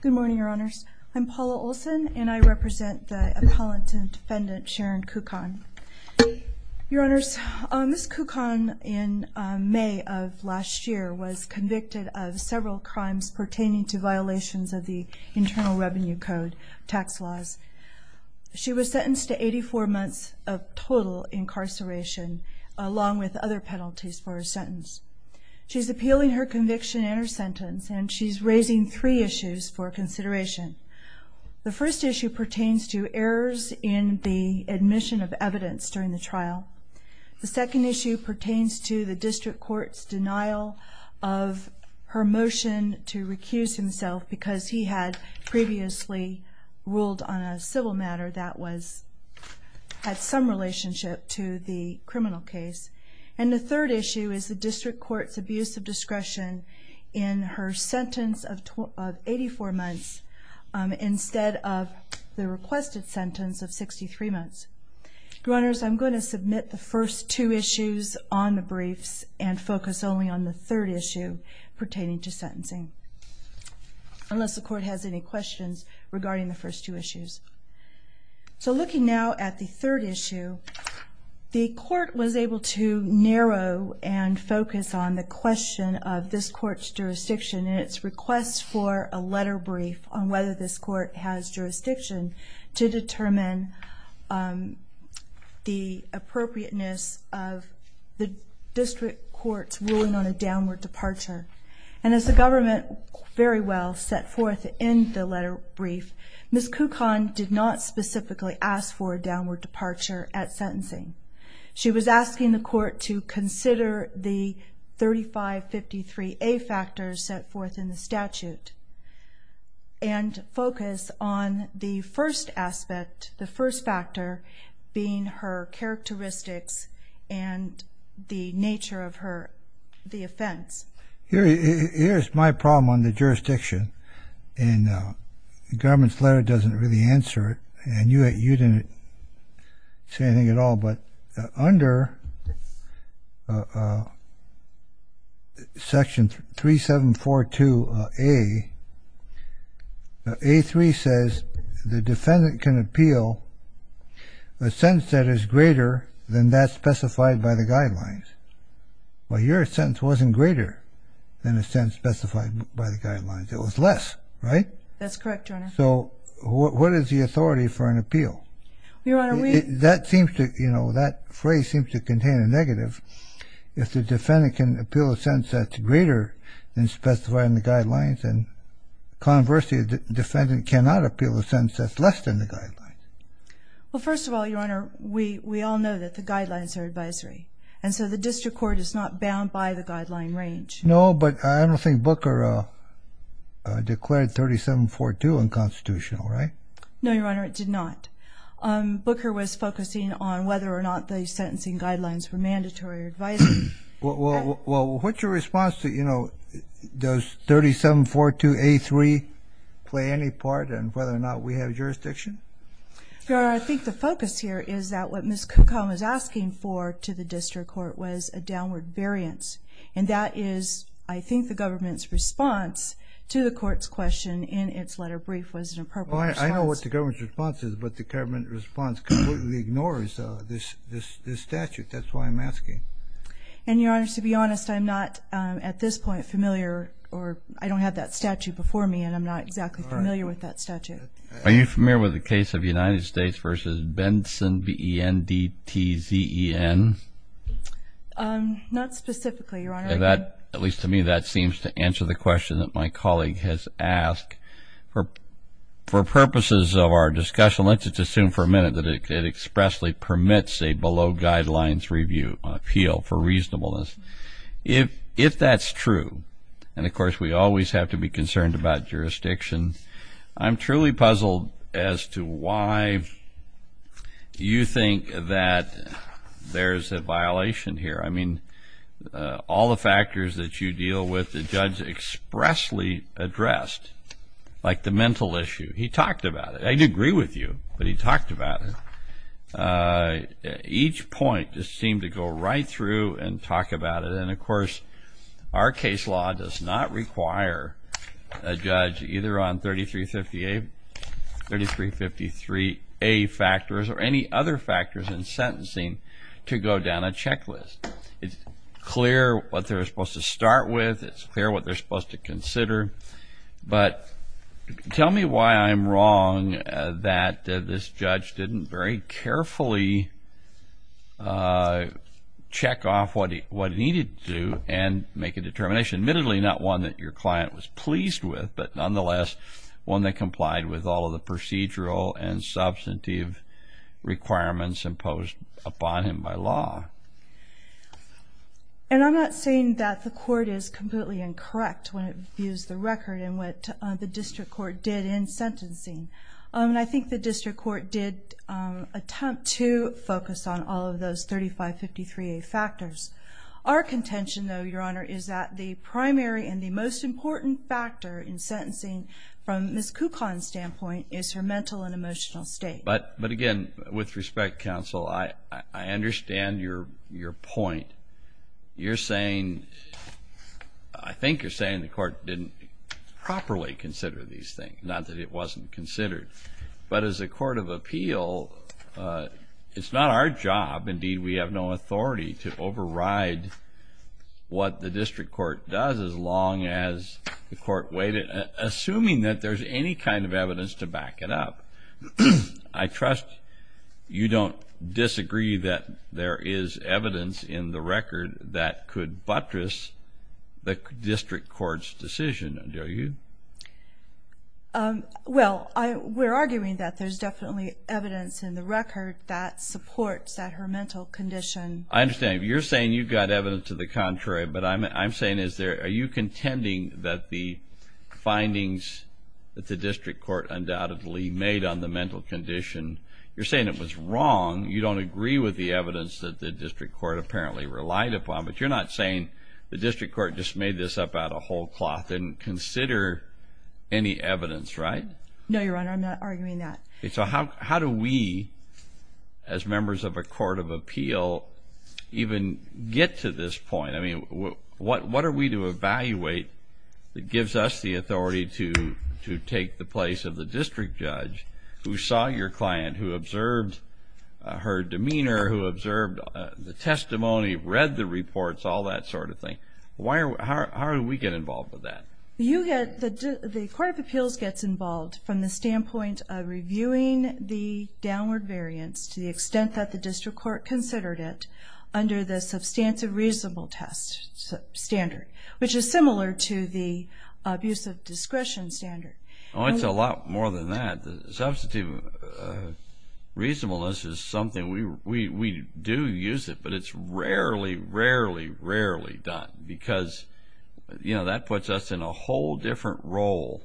Good morning, Your Honors. I'm Paula Olson, and I represent the appellant and defendant Sharon Kukhahn. Your Honors, Ms. Kukhahn in May of last year was convicted of several crimes pertaining to violations of the Internal Revenue Code tax laws. She was sentenced to 84 months of total incarceration, along with other penalties for her sentence. She's appealing her conviction and her sentence, and she's raising three issues for consideration. The first issue pertains to errors in the admission of evidence during the trial. The second issue pertains to the District Court's denial of her motion to recuse himself because he had previously ruled on a civil matter that had some relationship to the criminal case. And the third issue is the District Court's abuse of discretion in her sentence of 84 months instead of the requested sentence of 63 months. Your Honors, I'm going to submit the first two issues on the briefs and focus only on the third issue pertaining to sentencing, unless the Court has any questions regarding the first two issues. So looking now at the third issue, the Court was able to narrow and focus on the question of this Court's jurisdiction and its request for a letter brief on whether this Court has jurisdiction to determine the appropriateness of the District Court's ruling on a downward departure. And as the Government very well set forth in the letter brief, Ms. Kukan did not specifically ask for a downward departure at sentencing. She was asking the Court to consider the 3553A factors set forth in the statute and focus on the first aspect, the first factor, being her characteristics and the nature of her, the offense. Here's my problem on the jurisdiction, and the Government's letter doesn't really answer it, and you didn't say anything at all, but under Section 3742A, A3 says the defendant can appeal a sentence that is greater than that specified by the guidelines. Well, your sentence wasn't greater than a sentence specified by the guidelines, it was less, right? That's correct, Your Honor. So, what is the authority for an appeal? Your Honor, we... That seems to, you know, that phrase seems to contain a negative. If the defendant can appeal a sentence that's greater than specified in the guidelines, then conversely, the defendant cannot appeal a sentence that's less than the guidelines. Well, first of all, Your Honor, we all know that the guidelines are advisory, and so the District Court is not bound by the guideline range. No, but I don't think Booker declared 3742 unconstitutional, right? No, Your Honor, it did not. Booker was focusing on whether or not the sentencing guidelines were mandatory or advisory. Well, what's your response to, you know, does 3742A3 play any part in whether or not we have jurisdiction? Your Honor, I think the focus here is that what Ms. Cucombe is asking for to the District Court was a downward variance, and that is, I think, the government's response to the court's question in its letter brief was an appropriate response. Well, I know what the government's response is, but the government response completely ignores this statute. That's why I'm asking. And, Your Honor, to be honest, I'm not, at this point, familiar or I don't have that statute before me, and I'm not exactly familiar with that statute. Are you familiar with the case of United States v. Benson, B-E-N-D-T-Z-E-N? Not specifically, Your Honor. At least to me, that seems to answer the question that my colleague has asked. For purposes of our discussion, let's just assume for a minute that it expressly permits a below-guidelines appeal for reasonableness. If that's true, and, of course, we always have to be concerned about jurisdiction, I'm truly puzzled as to why you think that there's a violation here. I mean, all the factors that you deal with, the judge expressly addressed, like the mental issue. He talked about it. I'd agree with you, but he talked about it. Each point just seemed to go right through and talk about it. And, of course, our case law does not require a judge, either on 3353A factors or any other factors in sentencing, to go down a checklist. It's clear what they're supposed to start with. It's clear what they're supposed to consider. But tell me why I'm wrong that this judge didn't very carefully check off what he needed to and make a determination, admittedly not one that your client was pleased with, but, nonetheless, one that complied with all of the procedural and substantive requirements imposed upon him by law. And I'm not saying that the court is completely incorrect when it views the record and what the district court did in sentencing. I think the district court did attempt to focus on all of those 3553A factors. Our contention, though, Your Honor, is that the primary and the most important factor in sentencing, from Ms. Kucon's standpoint, is her mental and emotional state. But, again, with respect, counsel, I understand your point. You're saying, I think you're saying the court didn't properly consider these things, not that it wasn't considered. But as a court of appeal, it's not our job, indeed we have no authority, to override what the district court does as long as the court waited, assuming that there's any kind of evidence to back it up. I trust you don't disagree that there is evidence in the record that could buttress the district court's decision, do you? Well, we're arguing that there's definitely evidence in the record that supports that her mental condition. I understand. You're saying you've got evidence to the contrary. But I'm saying, are you contending that the findings that the district court undoubtedly made on the mental condition, you're saying it was wrong, you don't agree with the evidence that the district court apparently relied upon, but you're not saying the district court just made this up out of whole cloth and didn't consider any evidence, right? No, Your Honor, I'm not arguing that. Okay, so how do we, as members of a court of appeal, even get to this point? I mean, what are we to evaluate that gives us the authority to take the place of the district judge who saw your client, who observed her demeanor, who observed the testimony, read the reports, all that sort of thing? How do we get involved with that? The court of appeals gets involved from the standpoint of reviewing the downward variance to the extent that the district court considered it under the substantive reasonable test standard, which is similar to the abusive discretion standard. Oh, it's a lot more than that. Substantive reasonableness is something we do use it, but it's rarely, rarely, rarely done, because, you know, that puts us in a whole different role.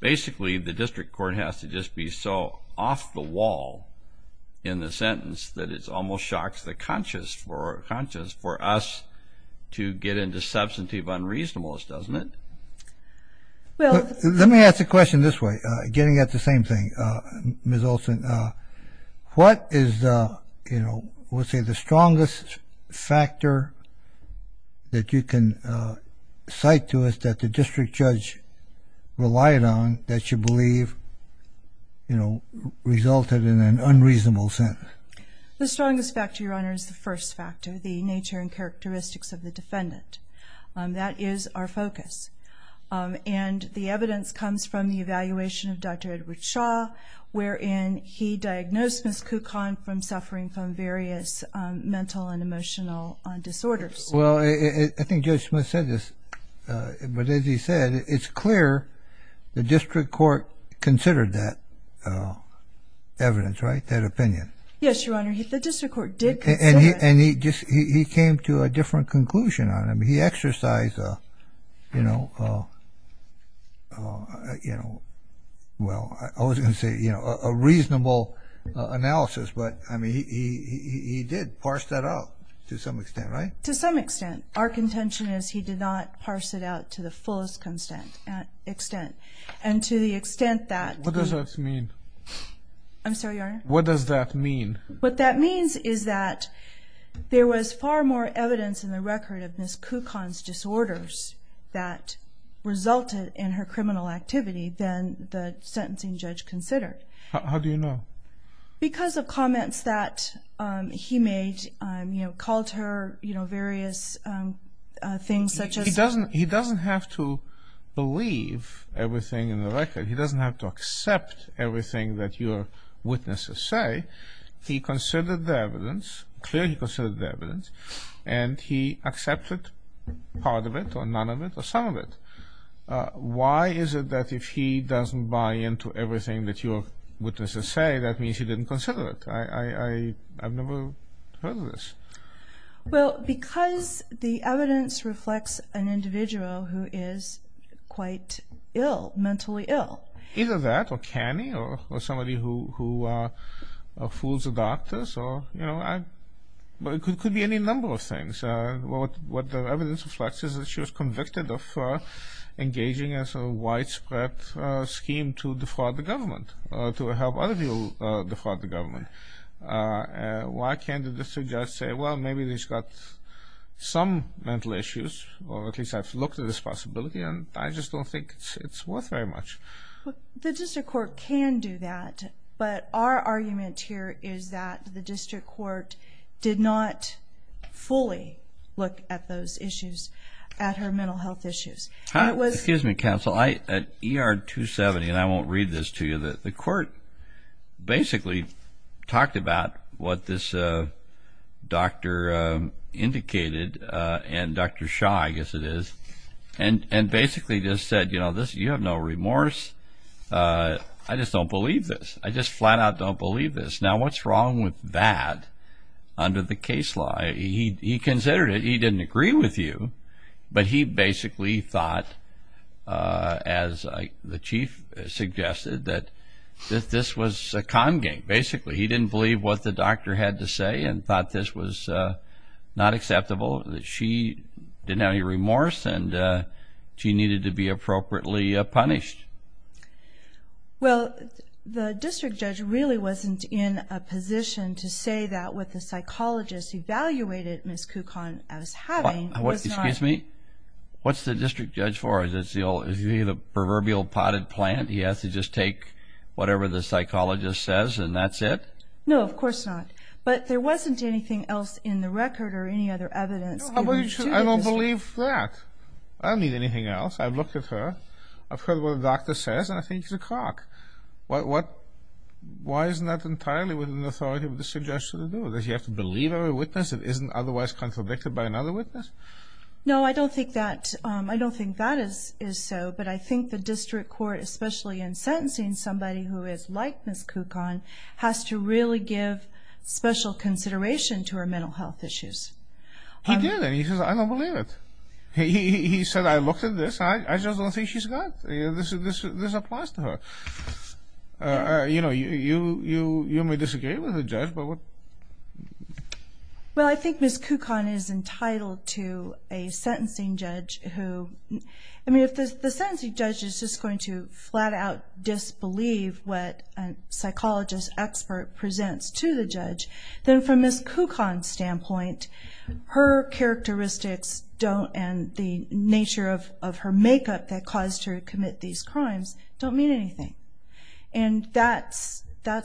Basically, the district court has to just be so off the wall in the sentence that it almost shocks the conscience for us to get into substantive unreasonableness, doesn't it? Let me ask the question this way, getting at the same thing. Ms. Olson, what is, you know, let's say the strongest factor that you can cite to us that the district judge relied on that you believe, you know, resulted in an unreasonable sentence? The strongest factor, Your Honor, is the first factor, the nature and characteristics of the defendant. That is our focus. And the evidence comes from the evaluation of Dr. Edward Shaw, wherein he diagnosed Ms. Kukan from suffering from various mental and emotional disorders. Well, I think Judge Smith said this, but as he said, it's clear the district court considered that evidence, right, that opinion? Yes, Your Honor, the district court did consider that. And he came to a different conclusion on it. I mean, he exercised, you know, well, I was going to say, you know, a reasonable analysis, but, I mean, he did parse that out to some extent, right? To some extent. Our contention is he did not parse it out to the fullest extent. And to the extent that he – What does that mean? I'm sorry, Your Honor? What does that mean? What that means is that there was far more evidence in the record of Ms. Kukan's disorders that resulted in her criminal activity than the sentencing judge considered. How do you know? Because of comments that he made, you know, called her, you know, various things such as – He doesn't have to believe everything in the record. He doesn't have to accept everything that your witnesses say. He considered the evidence. Clearly, he considered the evidence. And he accepted part of it or none of it or some of it. Why is it that if he doesn't buy into everything that your witnesses say, that means he didn't consider it? I've never heard of this. Well, because the evidence reflects an individual who is quite ill, mentally ill. Either that or canny or somebody who fools the doctors or, you know, it could be any number of things. What the evidence reflects is that she was convicted of engaging in a sort of widespread scheme to defraud the government, to help other people defraud the government. Why can't the district judge say, well, maybe she's got some mental issues or at least I've looked at this possibility and I just don't think it's worth very much? The district court can do that, but our argument here is that the district court did not fully look at those issues, at her mental health issues. Excuse me, counsel. At ER 270, and I won't read this to you, the court basically talked about what this doctor indicated and Dr. Shaw, I guess it is, and basically just said, you know, you have no remorse. I just don't believe this. I just flat out don't believe this. Now, what's wrong with that under the case law? He considered it. He didn't agree with you. But he basically thought, as the chief suggested, that this was a con game, basically. He didn't believe what the doctor had to say and thought this was not acceptable, that she didn't have any remorse and she needed to be appropriately punished. Well, the district judge really wasn't in a position to say that what the psychologist evaluated Ms. Kukon as having was not. Excuse me? What's the district judge for? Is he the proverbial potted plant? He has to just take whatever the psychologist says and that's it? No, of course not. But there wasn't anything else in the record or any other evidence. I don't believe that. I don't need anything else. I've looked at her. I've heard what the doctor says, and I think she's a crock. Why isn't that entirely within the authority of the district judge to do it? Does he have to believe every witness that isn't otherwise contradicted by another witness? No, I don't think that is so. But I think the district court, especially in sentencing somebody who is like Ms. Kukon, has to really give special consideration to her mental health issues. He did, and he says, I don't believe it. He said, I looked at this. I just don't think she's got it. This applies to her. You know, you may disagree with the judge, but what? Well, I think Ms. Kukon is entitled to a sentencing judge who, I mean, if the sentencing judge is just going to flat-out disbelieve what a psychologist expert presents to the judge, then from Ms. Kukon's standpoint, her characteristics don't and the nature of her makeup that caused her to commit these crimes don't mean anything. And that's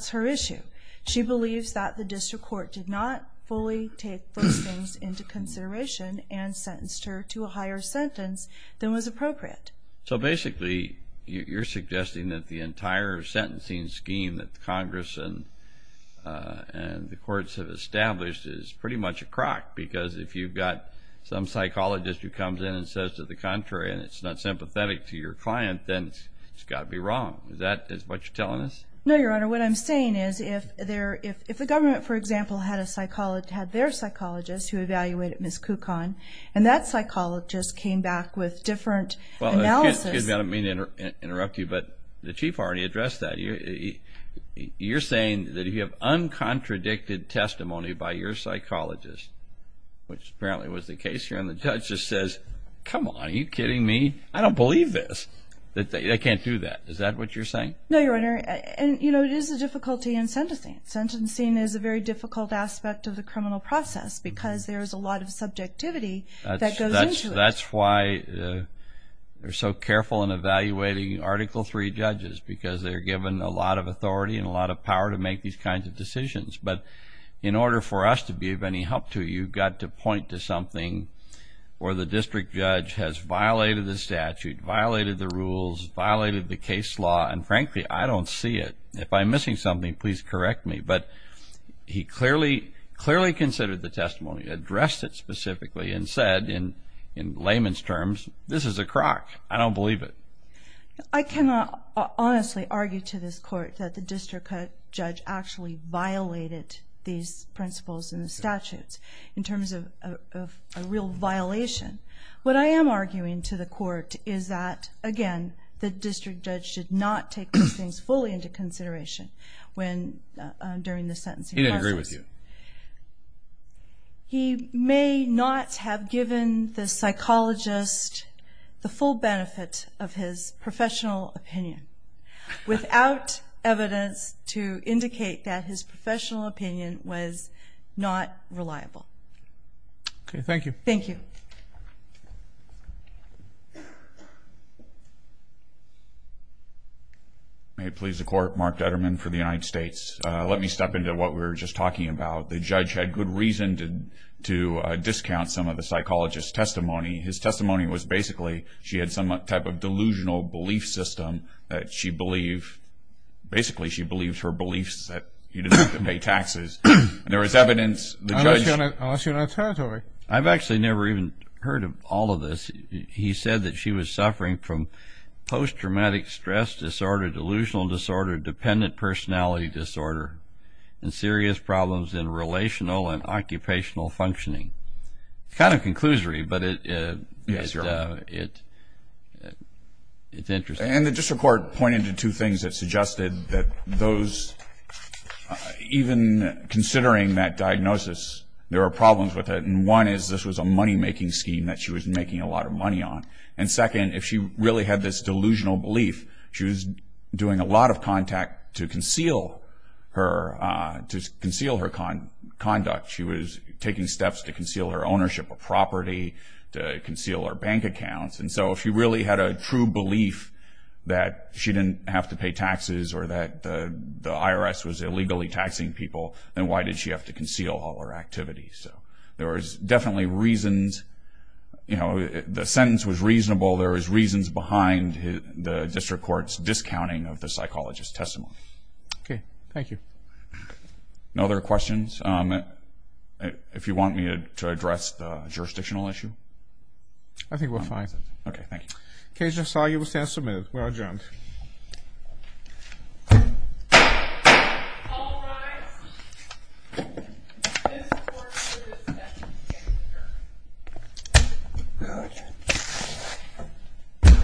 her issue. She believes that the district court did not fully take those things into consideration and sentenced her to a higher sentence than was appropriate. So basically you're suggesting that the entire sentencing scheme that Congress and the courts have established is pretty much a crock, because if you've got some psychologist who comes in and says to the contrary and it's not sympathetic to your client, then it's got to be wrong. Is that what you're telling us? No, Your Honor. What I'm saying is if the government, for example, had their psychologist who evaluated Ms. Kukon and that psychologist came back with different analysis. Well, excuse me. I don't mean to interrupt you, but the Chief already addressed that. You're saying that if you have uncontradicted testimony by your psychologist, which apparently was the case here, and the judge just says, come on, are you kidding me? I don't believe this. They can't do that. Is that what you're saying? No, Your Honor. And, you know, it is a difficulty in sentencing. Sentencing is a very difficult aspect of the criminal process because there is a lot of subjectivity that goes into it. That's why they're so careful in evaluating Article III judges because they're given a lot of authority and a lot of power to make these kinds of decisions. But in order for us to be of any help to you, you've got to point to something where the district judge has violated the statute, violated the rules, violated the case law, and, frankly, I don't see it. If I'm missing something, please correct me. But he clearly considered the testimony, addressed it specifically, and said in layman's terms, this is a crock. I don't believe it. I cannot honestly argue to this Court that the district judge actually violated these principles and the statutes in terms of a real violation. What I am arguing to the Court is that, again, the district judge did not take these things fully into consideration during the sentencing process. He didn't agree with you. He may not have given the psychologist the full benefit of his professional opinion without evidence to indicate that his professional opinion was not reliable. Okay, thank you. Thank you. May it please the Court, Mark Detterman for the United States. Let me step into what we were just talking about. The judge had good reason to discount some of the psychologist's testimony. His testimony was basically she had some type of delusional belief system that she believed, basically she believed her beliefs that he didn't have to pay taxes. There was evidence the judge... I'll ask you an alternative. I've actually never even heard of all of this. He said that she was suffering from post-traumatic stress disorder, delusional disorder, dependent personality disorder, and serious problems in relational and occupational functioning. It's kind of a conclusory, but it's interesting. And the district court pointed to two things that suggested that those, even considering that diagnosis, there were problems with it. And one is this was a money-making scheme that she was making a lot of money on. And second, if she really had this delusional belief, she was doing a lot of contact to conceal her conduct. She was taking steps to conceal her ownership of property, to conceal her bank accounts. And so if she really had a true belief that she didn't have to pay taxes or that the IRS was illegally taxing people, then why did she have to conceal all her activities? So there was definitely reasons. The sentence was reasonable. There was reasons behind the district court's discounting of the psychologist's testimony. Okay. Thank you. No other questions? If you want me to address the jurisdictional issue? I think we're fine. Okay. Thank you. Okay. Thank you, Judge. That's all you have to say. We're adjourned. All rise. This court is adjourned. Good.